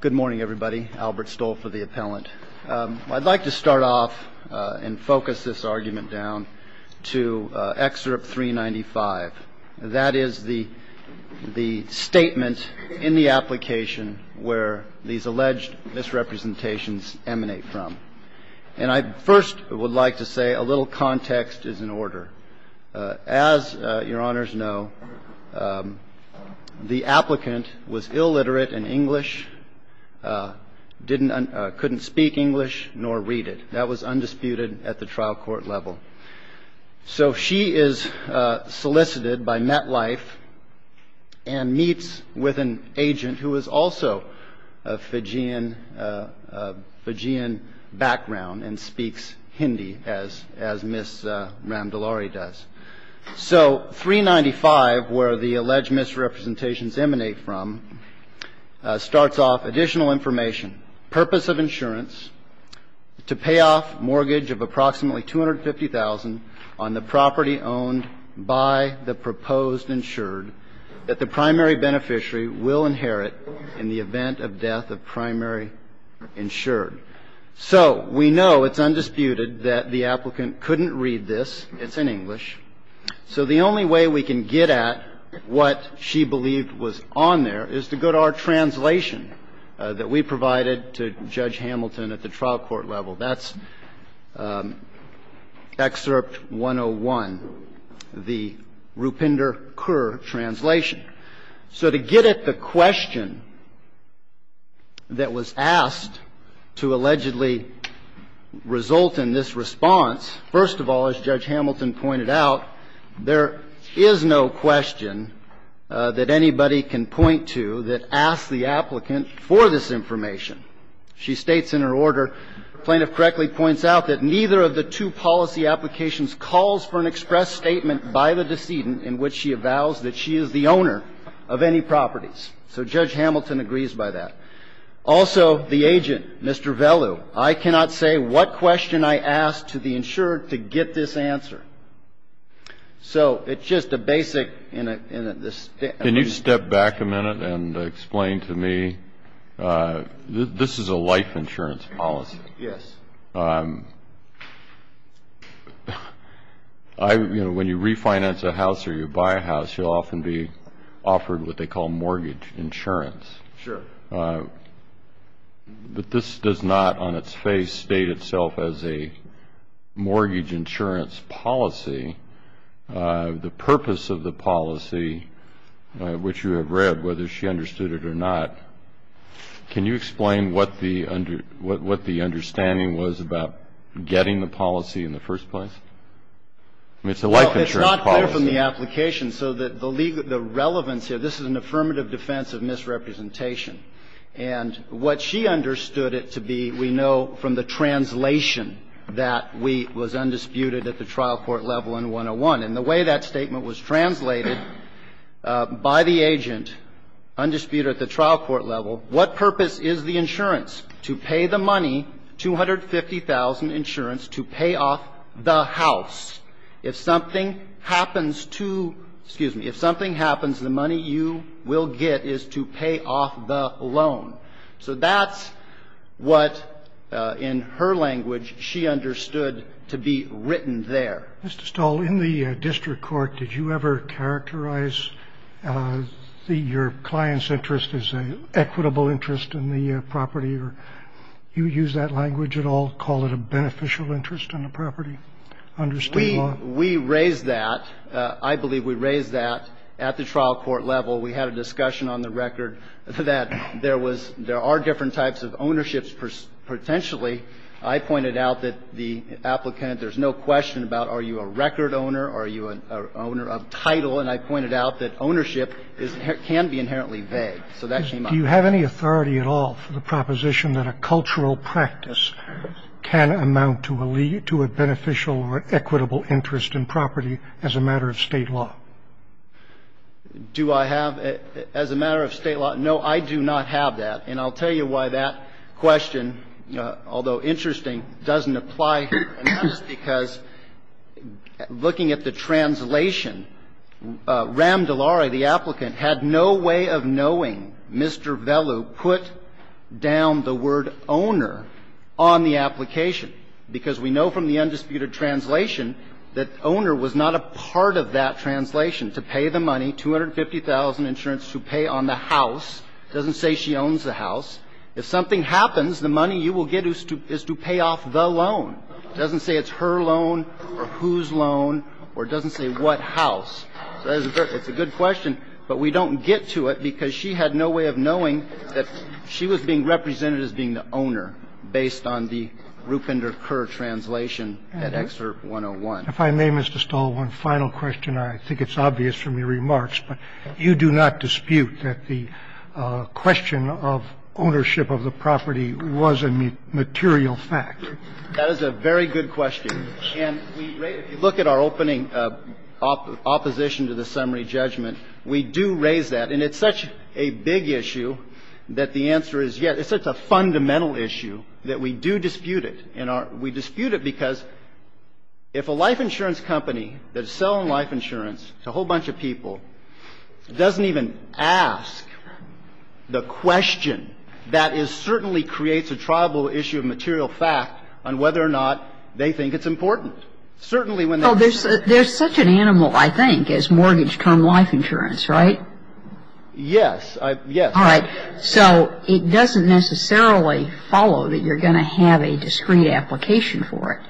Good morning everybody. Albert Stoll for the Appellant. I'd like to start off and focus this argument down to Excerpt 395. That is the statement in the application where these alleged misrepresentations emanate from. And I first would like to say a little context is in order. As your honors know, the applicant was illiterate in English, couldn't speak English nor read it. That was undisputed at the trial court level. So she is solicited by MetLife and meets with an agent who is also of Fijian background and speaks Hindi as Ms. Ramdalari does. So 395, where the alleged misrepresentations emanate from, starts off additional information. Purpose of insurance, to pay off mortgage of approximately $250,000 on the property owned by the proposed insured that the primary beneficiary will inherit in the event of death of primary insured. So we know it's undisputed that the applicant couldn't read this. It's in English. So the only way we can get at what she believed was on there is to go to our translation that we provided to Judge Hamilton at the trial court level. That's Excerpt 101, the Rupinder-Kerr translation. So to get at the question that was asked to allegedly result in this response, first of all, as Judge Hamilton pointed out, there is no question that anybody can point to that asks the applicant for this information. She states in her order, plaintiff correctly points out that neither of the two policy applications calls for an express statement by the decedent in which she avows that she is the owner of any properties. So Judge Hamilton agrees by that. Also, the agent, Mr. Vellu, I cannot say what question I asked to the insured to get this answer. So it's just a basic in a stance. Can you step back a minute and explain to me, this is a life insurance policy. Yes. When you refinance a house or you buy a house, you'll often be offered what they call mortgage insurance. Sure. But this does not on its face state itself as a mortgage insurance policy. The purpose of the policy, which you have read, whether she understood it or not, can you explain what the understanding was about getting the policy in the first place? I mean, it's a life insurance policy. Well, it's not clear from the application. So the relevance here, this is an affirmative defense of misrepresentation. And what she understood it to be, we know from the translation that was undisputed at the trial court level in 101. And the way that statement was translated by the agent, undisputed at the trial court level, what purpose is the insurance? To pay the money, $250,000 insurance, to pay off the house. If something happens to, excuse me, if something happens, the money you will get is to pay off the loan. So that's what, in her language, she understood to be written there. Mr. Stahl, in the district court, did you ever characterize your client's interest as an equitable interest in the property? Or do you use that language at all, call it a beneficial interest in the property? We raised that. I believe we raised that at the trial court level. We had a discussion on the record that there was, there are different types of ownerships potentially. I pointed out that the applicant, there's no question about are you a record owner, are you an owner of title. And I pointed out that ownership can be inherently vague. So that came up. Do you have any authority at all for the proposition that a cultural practice can amount to a beneficial or equitable interest in property as a matter of State law? Do I have, as a matter of State law? No, I do not have that. And I'll tell you why that question, although interesting, doesn't apply here. And that is because looking at the translation, Ram DeLaury, the applicant, had no way of knowing Mr. Vellu put down the word owner on the application, because we know from the undisputed translation that owner was not a part of that translation. To pay the money, 250,000 insurance to pay on the house, doesn't say she owns the house. If something happens, the money you will get is to pay off the loan. It doesn't say it's her loan or whose loan or it doesn't say what house. So that's a good question, but we don't get to it because she had no way of knowing that she was being represented as being the owner based on the Rupinder Kerr translation at Excerpt 101. If I may, Mr. Stahl, one final question. I think it's obvious from your remarks, but you do not dispute that the question of ownership of the property was a material fact. That is a very good question. And we look at our opening opposition to the summary judgment. We do raise that. And it's such a big issue that the answer is yes. It's such a fundamental issue that we do dispute it. And we dispute it because if a life insurance company that is selling life insurance to a whole bunch of people doesn't even ask the question, that is certainly creates a tribal issue of material fact on whether or not they think it's important. Certainly when they're using it. Well, there's such an animal, I think, as mortgage-term life insurance, right? Yes. Yes. All right. So it doesn't necessarily follow that you're going to have a discrete application for it.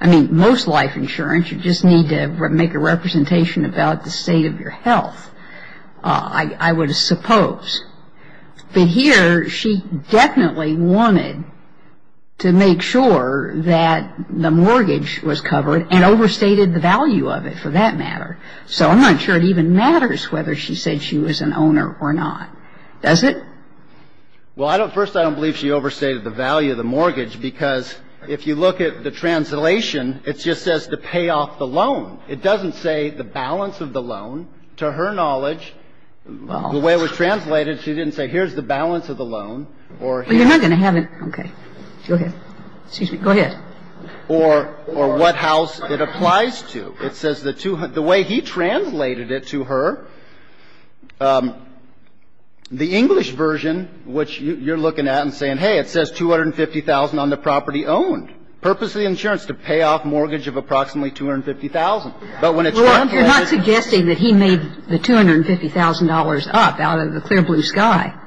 I mean, most life insurance, you just need to make a representation about the state of your health, I would suppose. But here, she definitely wanted to make sure that the mortgage was covered and overstated the value of it, for that matter. So I'm not sure it even matters whether she said she was an owner or not. Does it? Well, I don't – first, I don't believe she overstated the value of the mortgage because if you look at the translation, it just says to pay off the loan. It doesn't say the balance of the loan. To her knowledge, the way it was translated, she didn't say here's the balance of the loan or here's the balance. Well, you're not going to have it. Okay. Go ahead. Excuse me. Go ahead. Or what house it applies to. It says the two – the way he translated it to her, the English version, which you're looking at and saying, hey, it says $250,000 on the property owned. Purpose of the insurance, to pay off mortgage of approximately $250,000. But when it's not covered – Well, you're not suggesting that he made the $250,000 up out of the clear blue sky.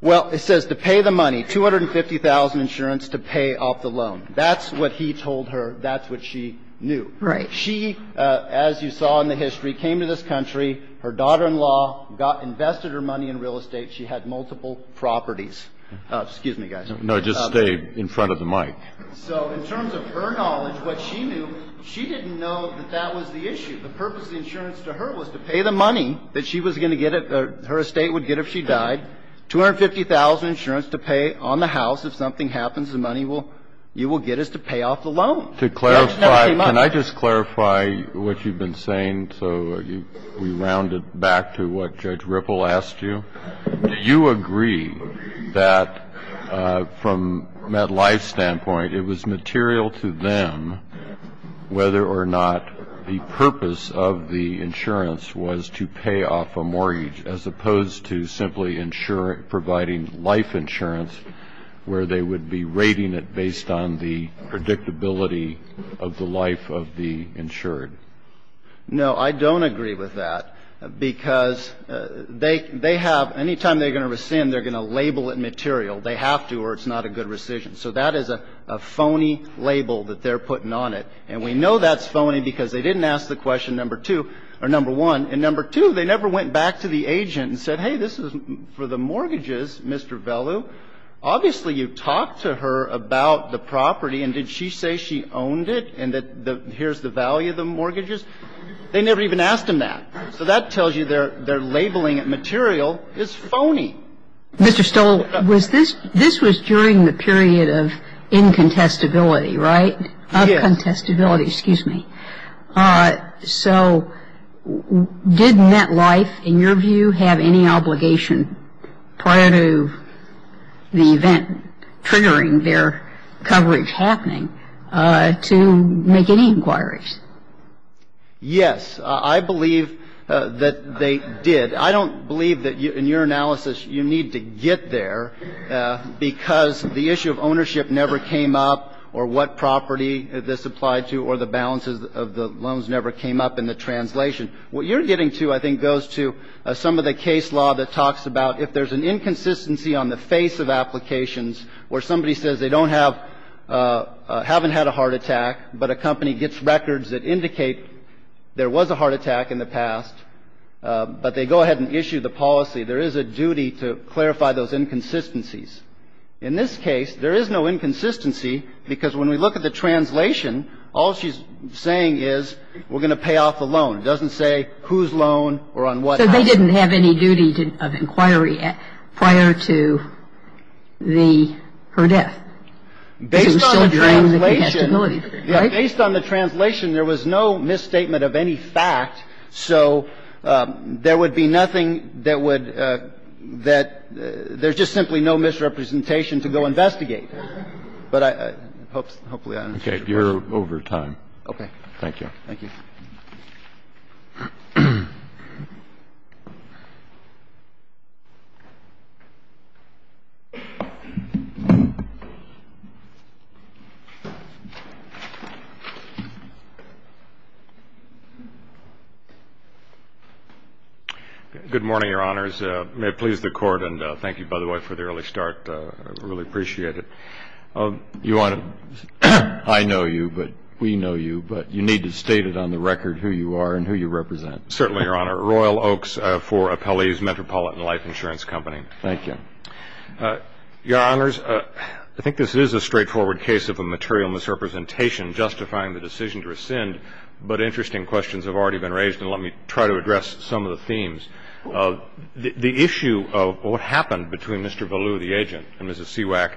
Well, it says to pay the money, $250,000 insurance to pay off the loan. That's what he told her. That's what she knew. She, as you saw in the history, came to this country. Her daughter-in-law invested her money in real estate. She had multiple properties. Excuse me, guys. No, just stay in front of the mic. So in terms of her knowledge, what she knew, she didn't know that that was the issue. The purpose of the insurance to her was to pay the money that she was going to get – her estate would get if she died. $250,000 insurance to pay on the house. If something happens, the money you will get is to pay off the loan. To clarify, can I just clarify what you've been saying? So we round it back to what Judge Ripple asked you. Do you agree that from MetLife's standpoint, it was material to them whether or not the purpose of the insurance was to pay off a mortgage as opposed to simply providing life insurance where they would be rating it based on the predictability of the life of the insured? No, I don't agree with that because they have – anytime they're going to rescind, they're going to label it material. They have to or it's not a good rescission. So that is a phony label that they're putting on it. And we know that's phony because they didn't ask the question number two – or number one. And number two, they never went back to the agent and said, hey, this is for the mortgages, Mr. Vellu. Obviously, you talked to her about the property, and did she say she owned it and that here's the value of the mortgages? They never even asked him that. So that tells you they're labeling it material. It's phony. Mr. Stoll, was this – this was during the period of incontestability, right? Yes. Of contestability. Excuse me. So did NetLife, in your view, have any obligation prior to the event triggering their coverage happening to make any inquiries? Yes. I believe that they did. I don't believe that in your analysis you need to get there because the issue of ownership never came up or what property this applied to or the balances of the loans never came up in the translation. What you're getting to, I think, goes to some of the case law that talks about if there's an inconsistency on the face of applications where somebody says they don't have – haven't had a heart attack, but a company gets records that indicate there was a heart attack in the past, but they go ahead and issue the policy, there is a duty to clarify those inconsistencies. In this case, there is no inconsistency because when we look at the translation, all she's saying is we're going to pay off the loan. It doesn't say whose loan or on what house. So they didn't have any duty of inquiry prior to the – her death. Based on the translation. It was still during the contestability period, right? Based on the translation, there was no misstatement of any fact. So there would be nothing that would – that – there's just simply no misrepresentation to go investigate. But I – hopefully I understood your question. Okay. You're over time. Thank you. Good morning, Your Honors. May it please the Court, and thank you, by the way, for the early start. I really appreciate it. You want to – I know you, but we know you, but you need to state it on the record who you are and who you represent. Certainly, Your Honor. Royal Oaks for Appellee's Metropolitan Life Insurance Company. Thank you. Your Honors, I think this is a straightforward case of a material misrepresentation justifying the decision to rescind, but interesting questions have already been raised, and let me try to address some of the themes. The issue of what happened between Mr. Valloux, the agent, and Mrs. Seawack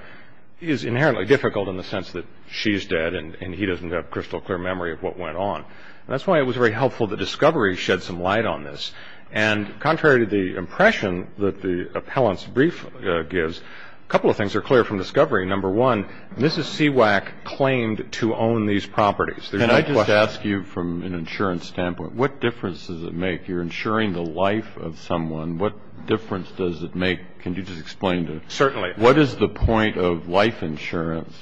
is inherently difficult in the sense that she's dead and he doesn't have crystal clear memory of what went on. And that's why it was very helpful that discovery shed some light on this. And contrary to the impression that the appellant's brief gives, a couple of things are clear from discovery. Number one, Mrs. Seawack claimed to own these properties. Can I just ask you from an insurance standpoint, what difference does it make? You're insuring the life of someone. What difference does it make? Can you just explain to us? Certainly. What is the point of life insurance?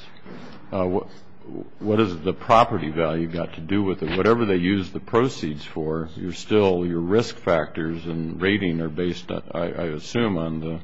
What has the property value got to do with it? Whatever they use the proceeds for, you're still, your risk factors and rating are based, I assume, on the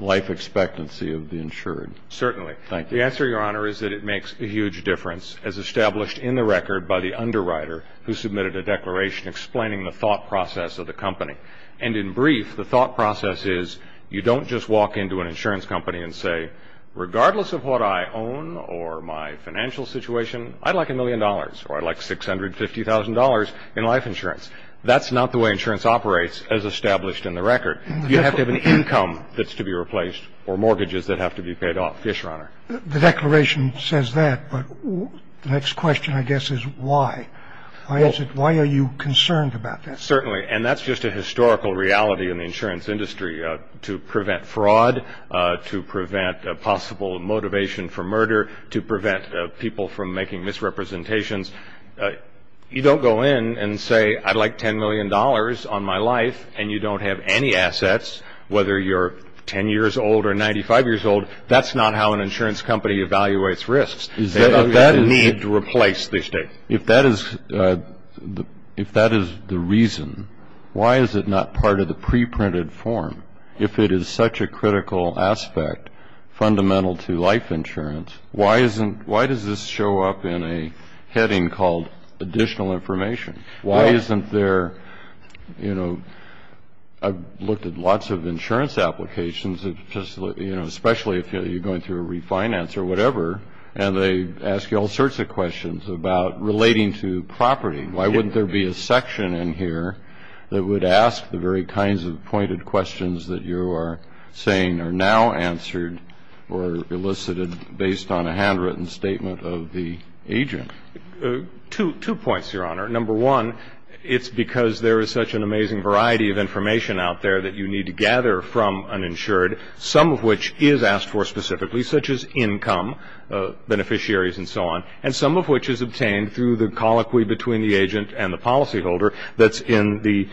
life expectancy of the insured. Certainly. Thank you. The answer, Your Honor, is that it makes a huge difference, as established in the record by the underwriter who submitted a declaration explaining the thought process of the company. And in brief, the thought process is you don't just walk into an insurance company and say, regardless of what I own or my financial situation, I'd like a million dollars or I'd like $650,000 in life insurance. That's not the way insurance operates as established in the record. You have to have an income that's to be replaced or mortgages that have to be paid off. Yes, Your Honor. The declaration says that, but the next question, I guess, is why? Why are you concerned about that? Certainly. And that's just a historical reality in the insurance industry. To prevent fraud, to prevent possible motivation for murder, to prevent people from making misrepresentations. You don't go in and say, I'd like $10 million on my life, and you don't have any assets, whether you're 10 years old or 95 years old. That's not how an insurance company evaluates risks. They need to replace the estate. If that is the reason, why is it not part of the preprinted form? If it is such a critical aspect, fundamental to life insurance, why does this show up in a heading called additional information? Why isn't there, you know, I've looked at lots of insurance applications, especially if you're going through a refinance or whatever, and they ask you all sorts of questions about relating to property. Why wouldn't there be a section in here that would ask the very kinds of pointed questions that you are saying are now answered or elicited based on a handwritten statement of the agent? Two points, Your Honor. Number one, it's because there is such an amazing variety of information out there that you need to gather from uninsured, some of which is asked for specifically, such as income, beneficiaries and so on, and some of which is obtained through the colloquy between the agent and the policyholder that's in the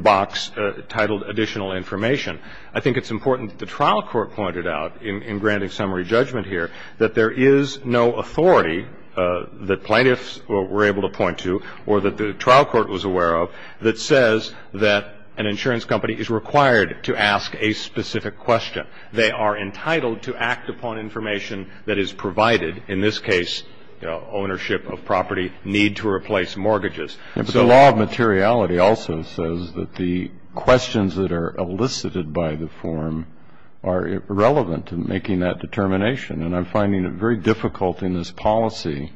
box titled additional information. I think it's important that the trial court pointed out in granting summary judgment here that there is no authority that plaintiffs were able to point to or that the trial court was aware of that says that an insurance company is required to ask a specific question. They are entitled to act upon information that is provided, in this case ownership of property, need to replace mortgages. But the law of materiality also says that the questions that are elicited by the form are irrelevant in making that determination, and I'm finding it very difficult in this policy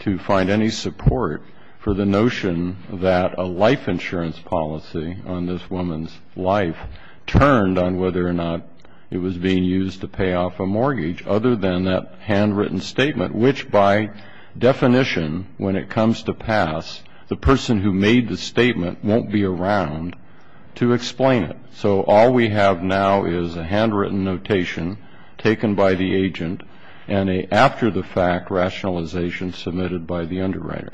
to find any support for the notion that a life insurance policy on this woman's life turned on whether or not it was being used to pay off a mortgage, other than that handwritten statement, which by definition, when it comes to pass, the person who made the statement won't be around to explain it. So all we have now is a handwritten notation taken by the agent and an after-the-fact rationalization submitted by the underwriter.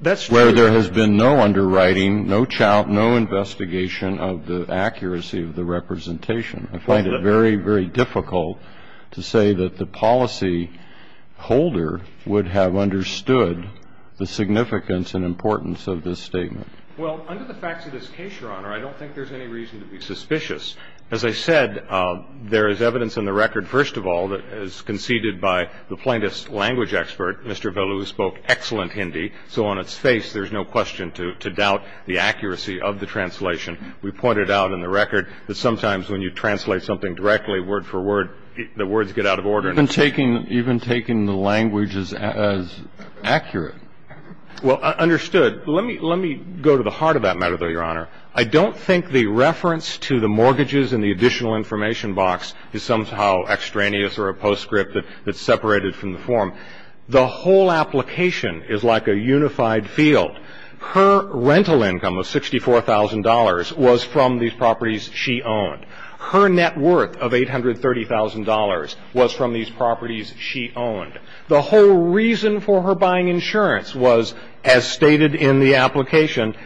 That's true. Where there has been no underwriting, no investigation of the accuracy of the representation. I find it very, very difficult to say that the policyholder would have understood the significance and importance of this statement. Well, under the facts of this case, Your Honor, I don't think there's any reason to be suspicious. As I said, there is evidence in the record, first of all, that is conceded by the plaintiff's language expert, Mr. Velu, who spoke excellent Hindi, so on its face there's no question to doubt the accuracy of the translation. We pointed out in the record that sometimes when you translate something directly, word for word, the words get out of order. Even taking the language as accurate. Well, understood. Let me go to the heart of that matter, though, Your Honor. I don't think the reference to the mortgages in the additional information box is somehow extraneous or a postscript that's separated from the form. The whole application is like a unified field. Her rental income of $64,000 was from these properties she owned. Her net worth of $830,000 was from these properties she owned. The whole reason for her buying insurance was, as stated in the application,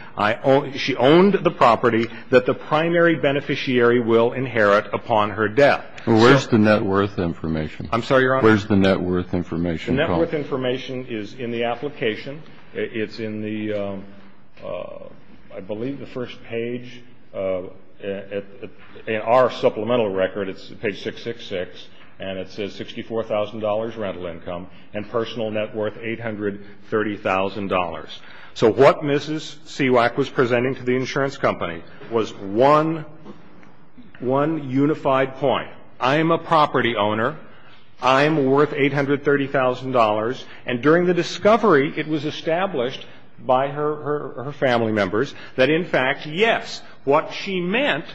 she owned the property that the primary beneficiary will inherit upon her death. Well, where's the net worth information? I'm sorry, Your Honor? Where's the net worth information? The net worth information is in the application. It's in the, I believe, the first page. In our supplemental record, it's page 666, and it says $64,000 rental income and personal net worth $830,000. So what Mrs. Siwak was presenting to the insurance company was one unified point. I'm a property owner. I'm worth $830,000. And during the discovery, it was established by her family members that, in fact, yes, what she meant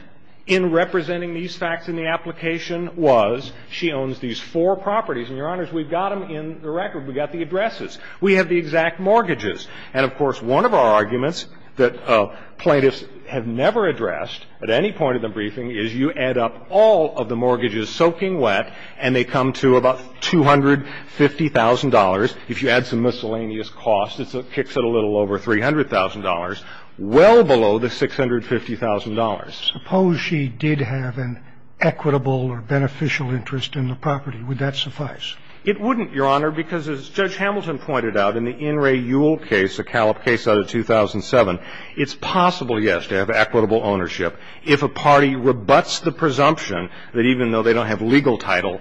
in representing these facts in the application was she owns these four properties. And, Your Honors, we've got them in the record. We've got the addresses. We have the exact mortgages. And, of course, one of our arguments that plaintiffs have never addressed at any point of the briefing is you add up all of the mortgages and they come to about $250,000. If you add some miscellaneous costs, it kicks it a little over $300,000, well below the $650,000. Suppose she did have an equitable or beneficial interest in the property. Would that suffice? It wouldn't, Your Honor, because as Judge Hamilton pointed out in the In re Yule case, a Callip case out of 2007, it's possible, yes, to have equitable ownership if a party rebuts the presumption that even though they don't have legal title,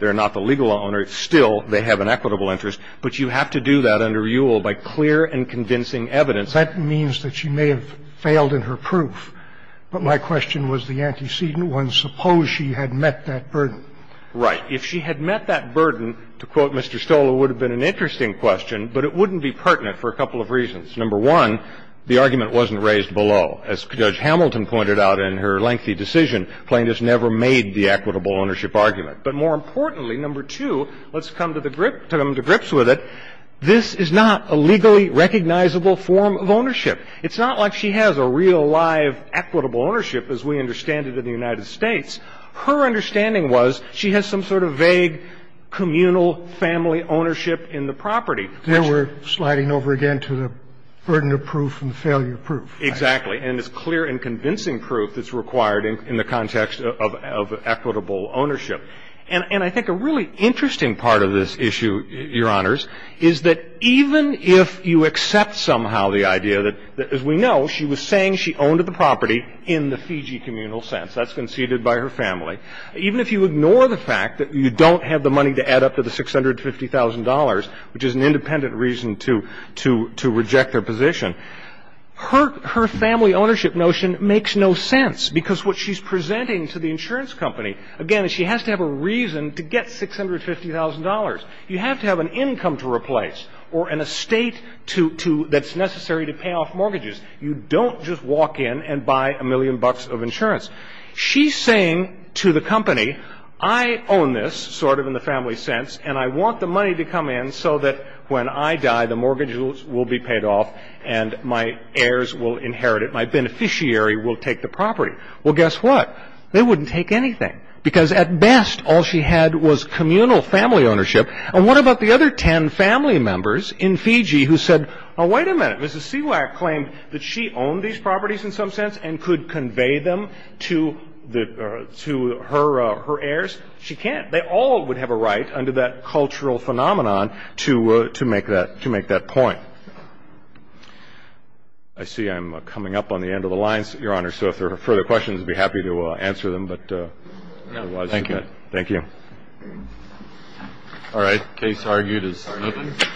they're not the legal owner, still they have an equitable interest. But you have to do that under Yule by clear and convincing evidence. That means that she may have failed in her proof. But my question was the antecedent one. Suppose she had met that burden. Right. If she had met that burden, to quote Mr. Stola, it would have been an interesting question, but it wouldn't be pertinent for a couple of reasons. Number one, the argument wasn't raised below. As Judge Hamilton pointed out in her lengthy decision, plaintiffs never made the equitable ownership argument. But more importantly, number two, let's come to the grips with it, this is not a legally recognizable form of ownership. It's not like she has a real live equitable ownership as we understand it in the United States. Her understanding was she has some sort of vague communal family ownership in the property. There we're sliding over again to the burden of proof and failure proof. Exactly. And it's clear and convincing proof that's required in the context of equitable ownership. And I think a really interesting part of this issue, Your Honors, is that even if you accept somehow the idea that, as we know, she was saying she owned the property in the Fiji communal sense. That's conceded by her family. Even if you ignore the fact that you don't have the money to add up to the $650,000, which is an independent reason to reject her position, her family ownership notion makes no sense because what she's presenting to the insurance company, again, is she has to have a reason to get $650,000. You have to have an income to replace or an estate that's necessary to pay off mortgages. You don't just walk in and buy a million bucks of insurance. She's saying to the company, I own this, sort of in the family sense, and I want the money to come in so that when I die the mortgages will be paid off and my heirs will inherit it. My beneficiary will take the property. Well, guess what? They wouldn't take anything because at best all she had was communal family ownership. And what about the other 10 family members in Fiji who said, oh, wait a minute. Mrs. Siwak claimed that she owned these properties in some sense and could convey them to her heirs. She can't. They all would have a right under that cultural phenomenon to make that point. I see I'm coming up on the end of the lines, Your Honor. So if there are further questions, I'd be happy to answer them. Thank you. Thank you. All right. Case argued as submitted.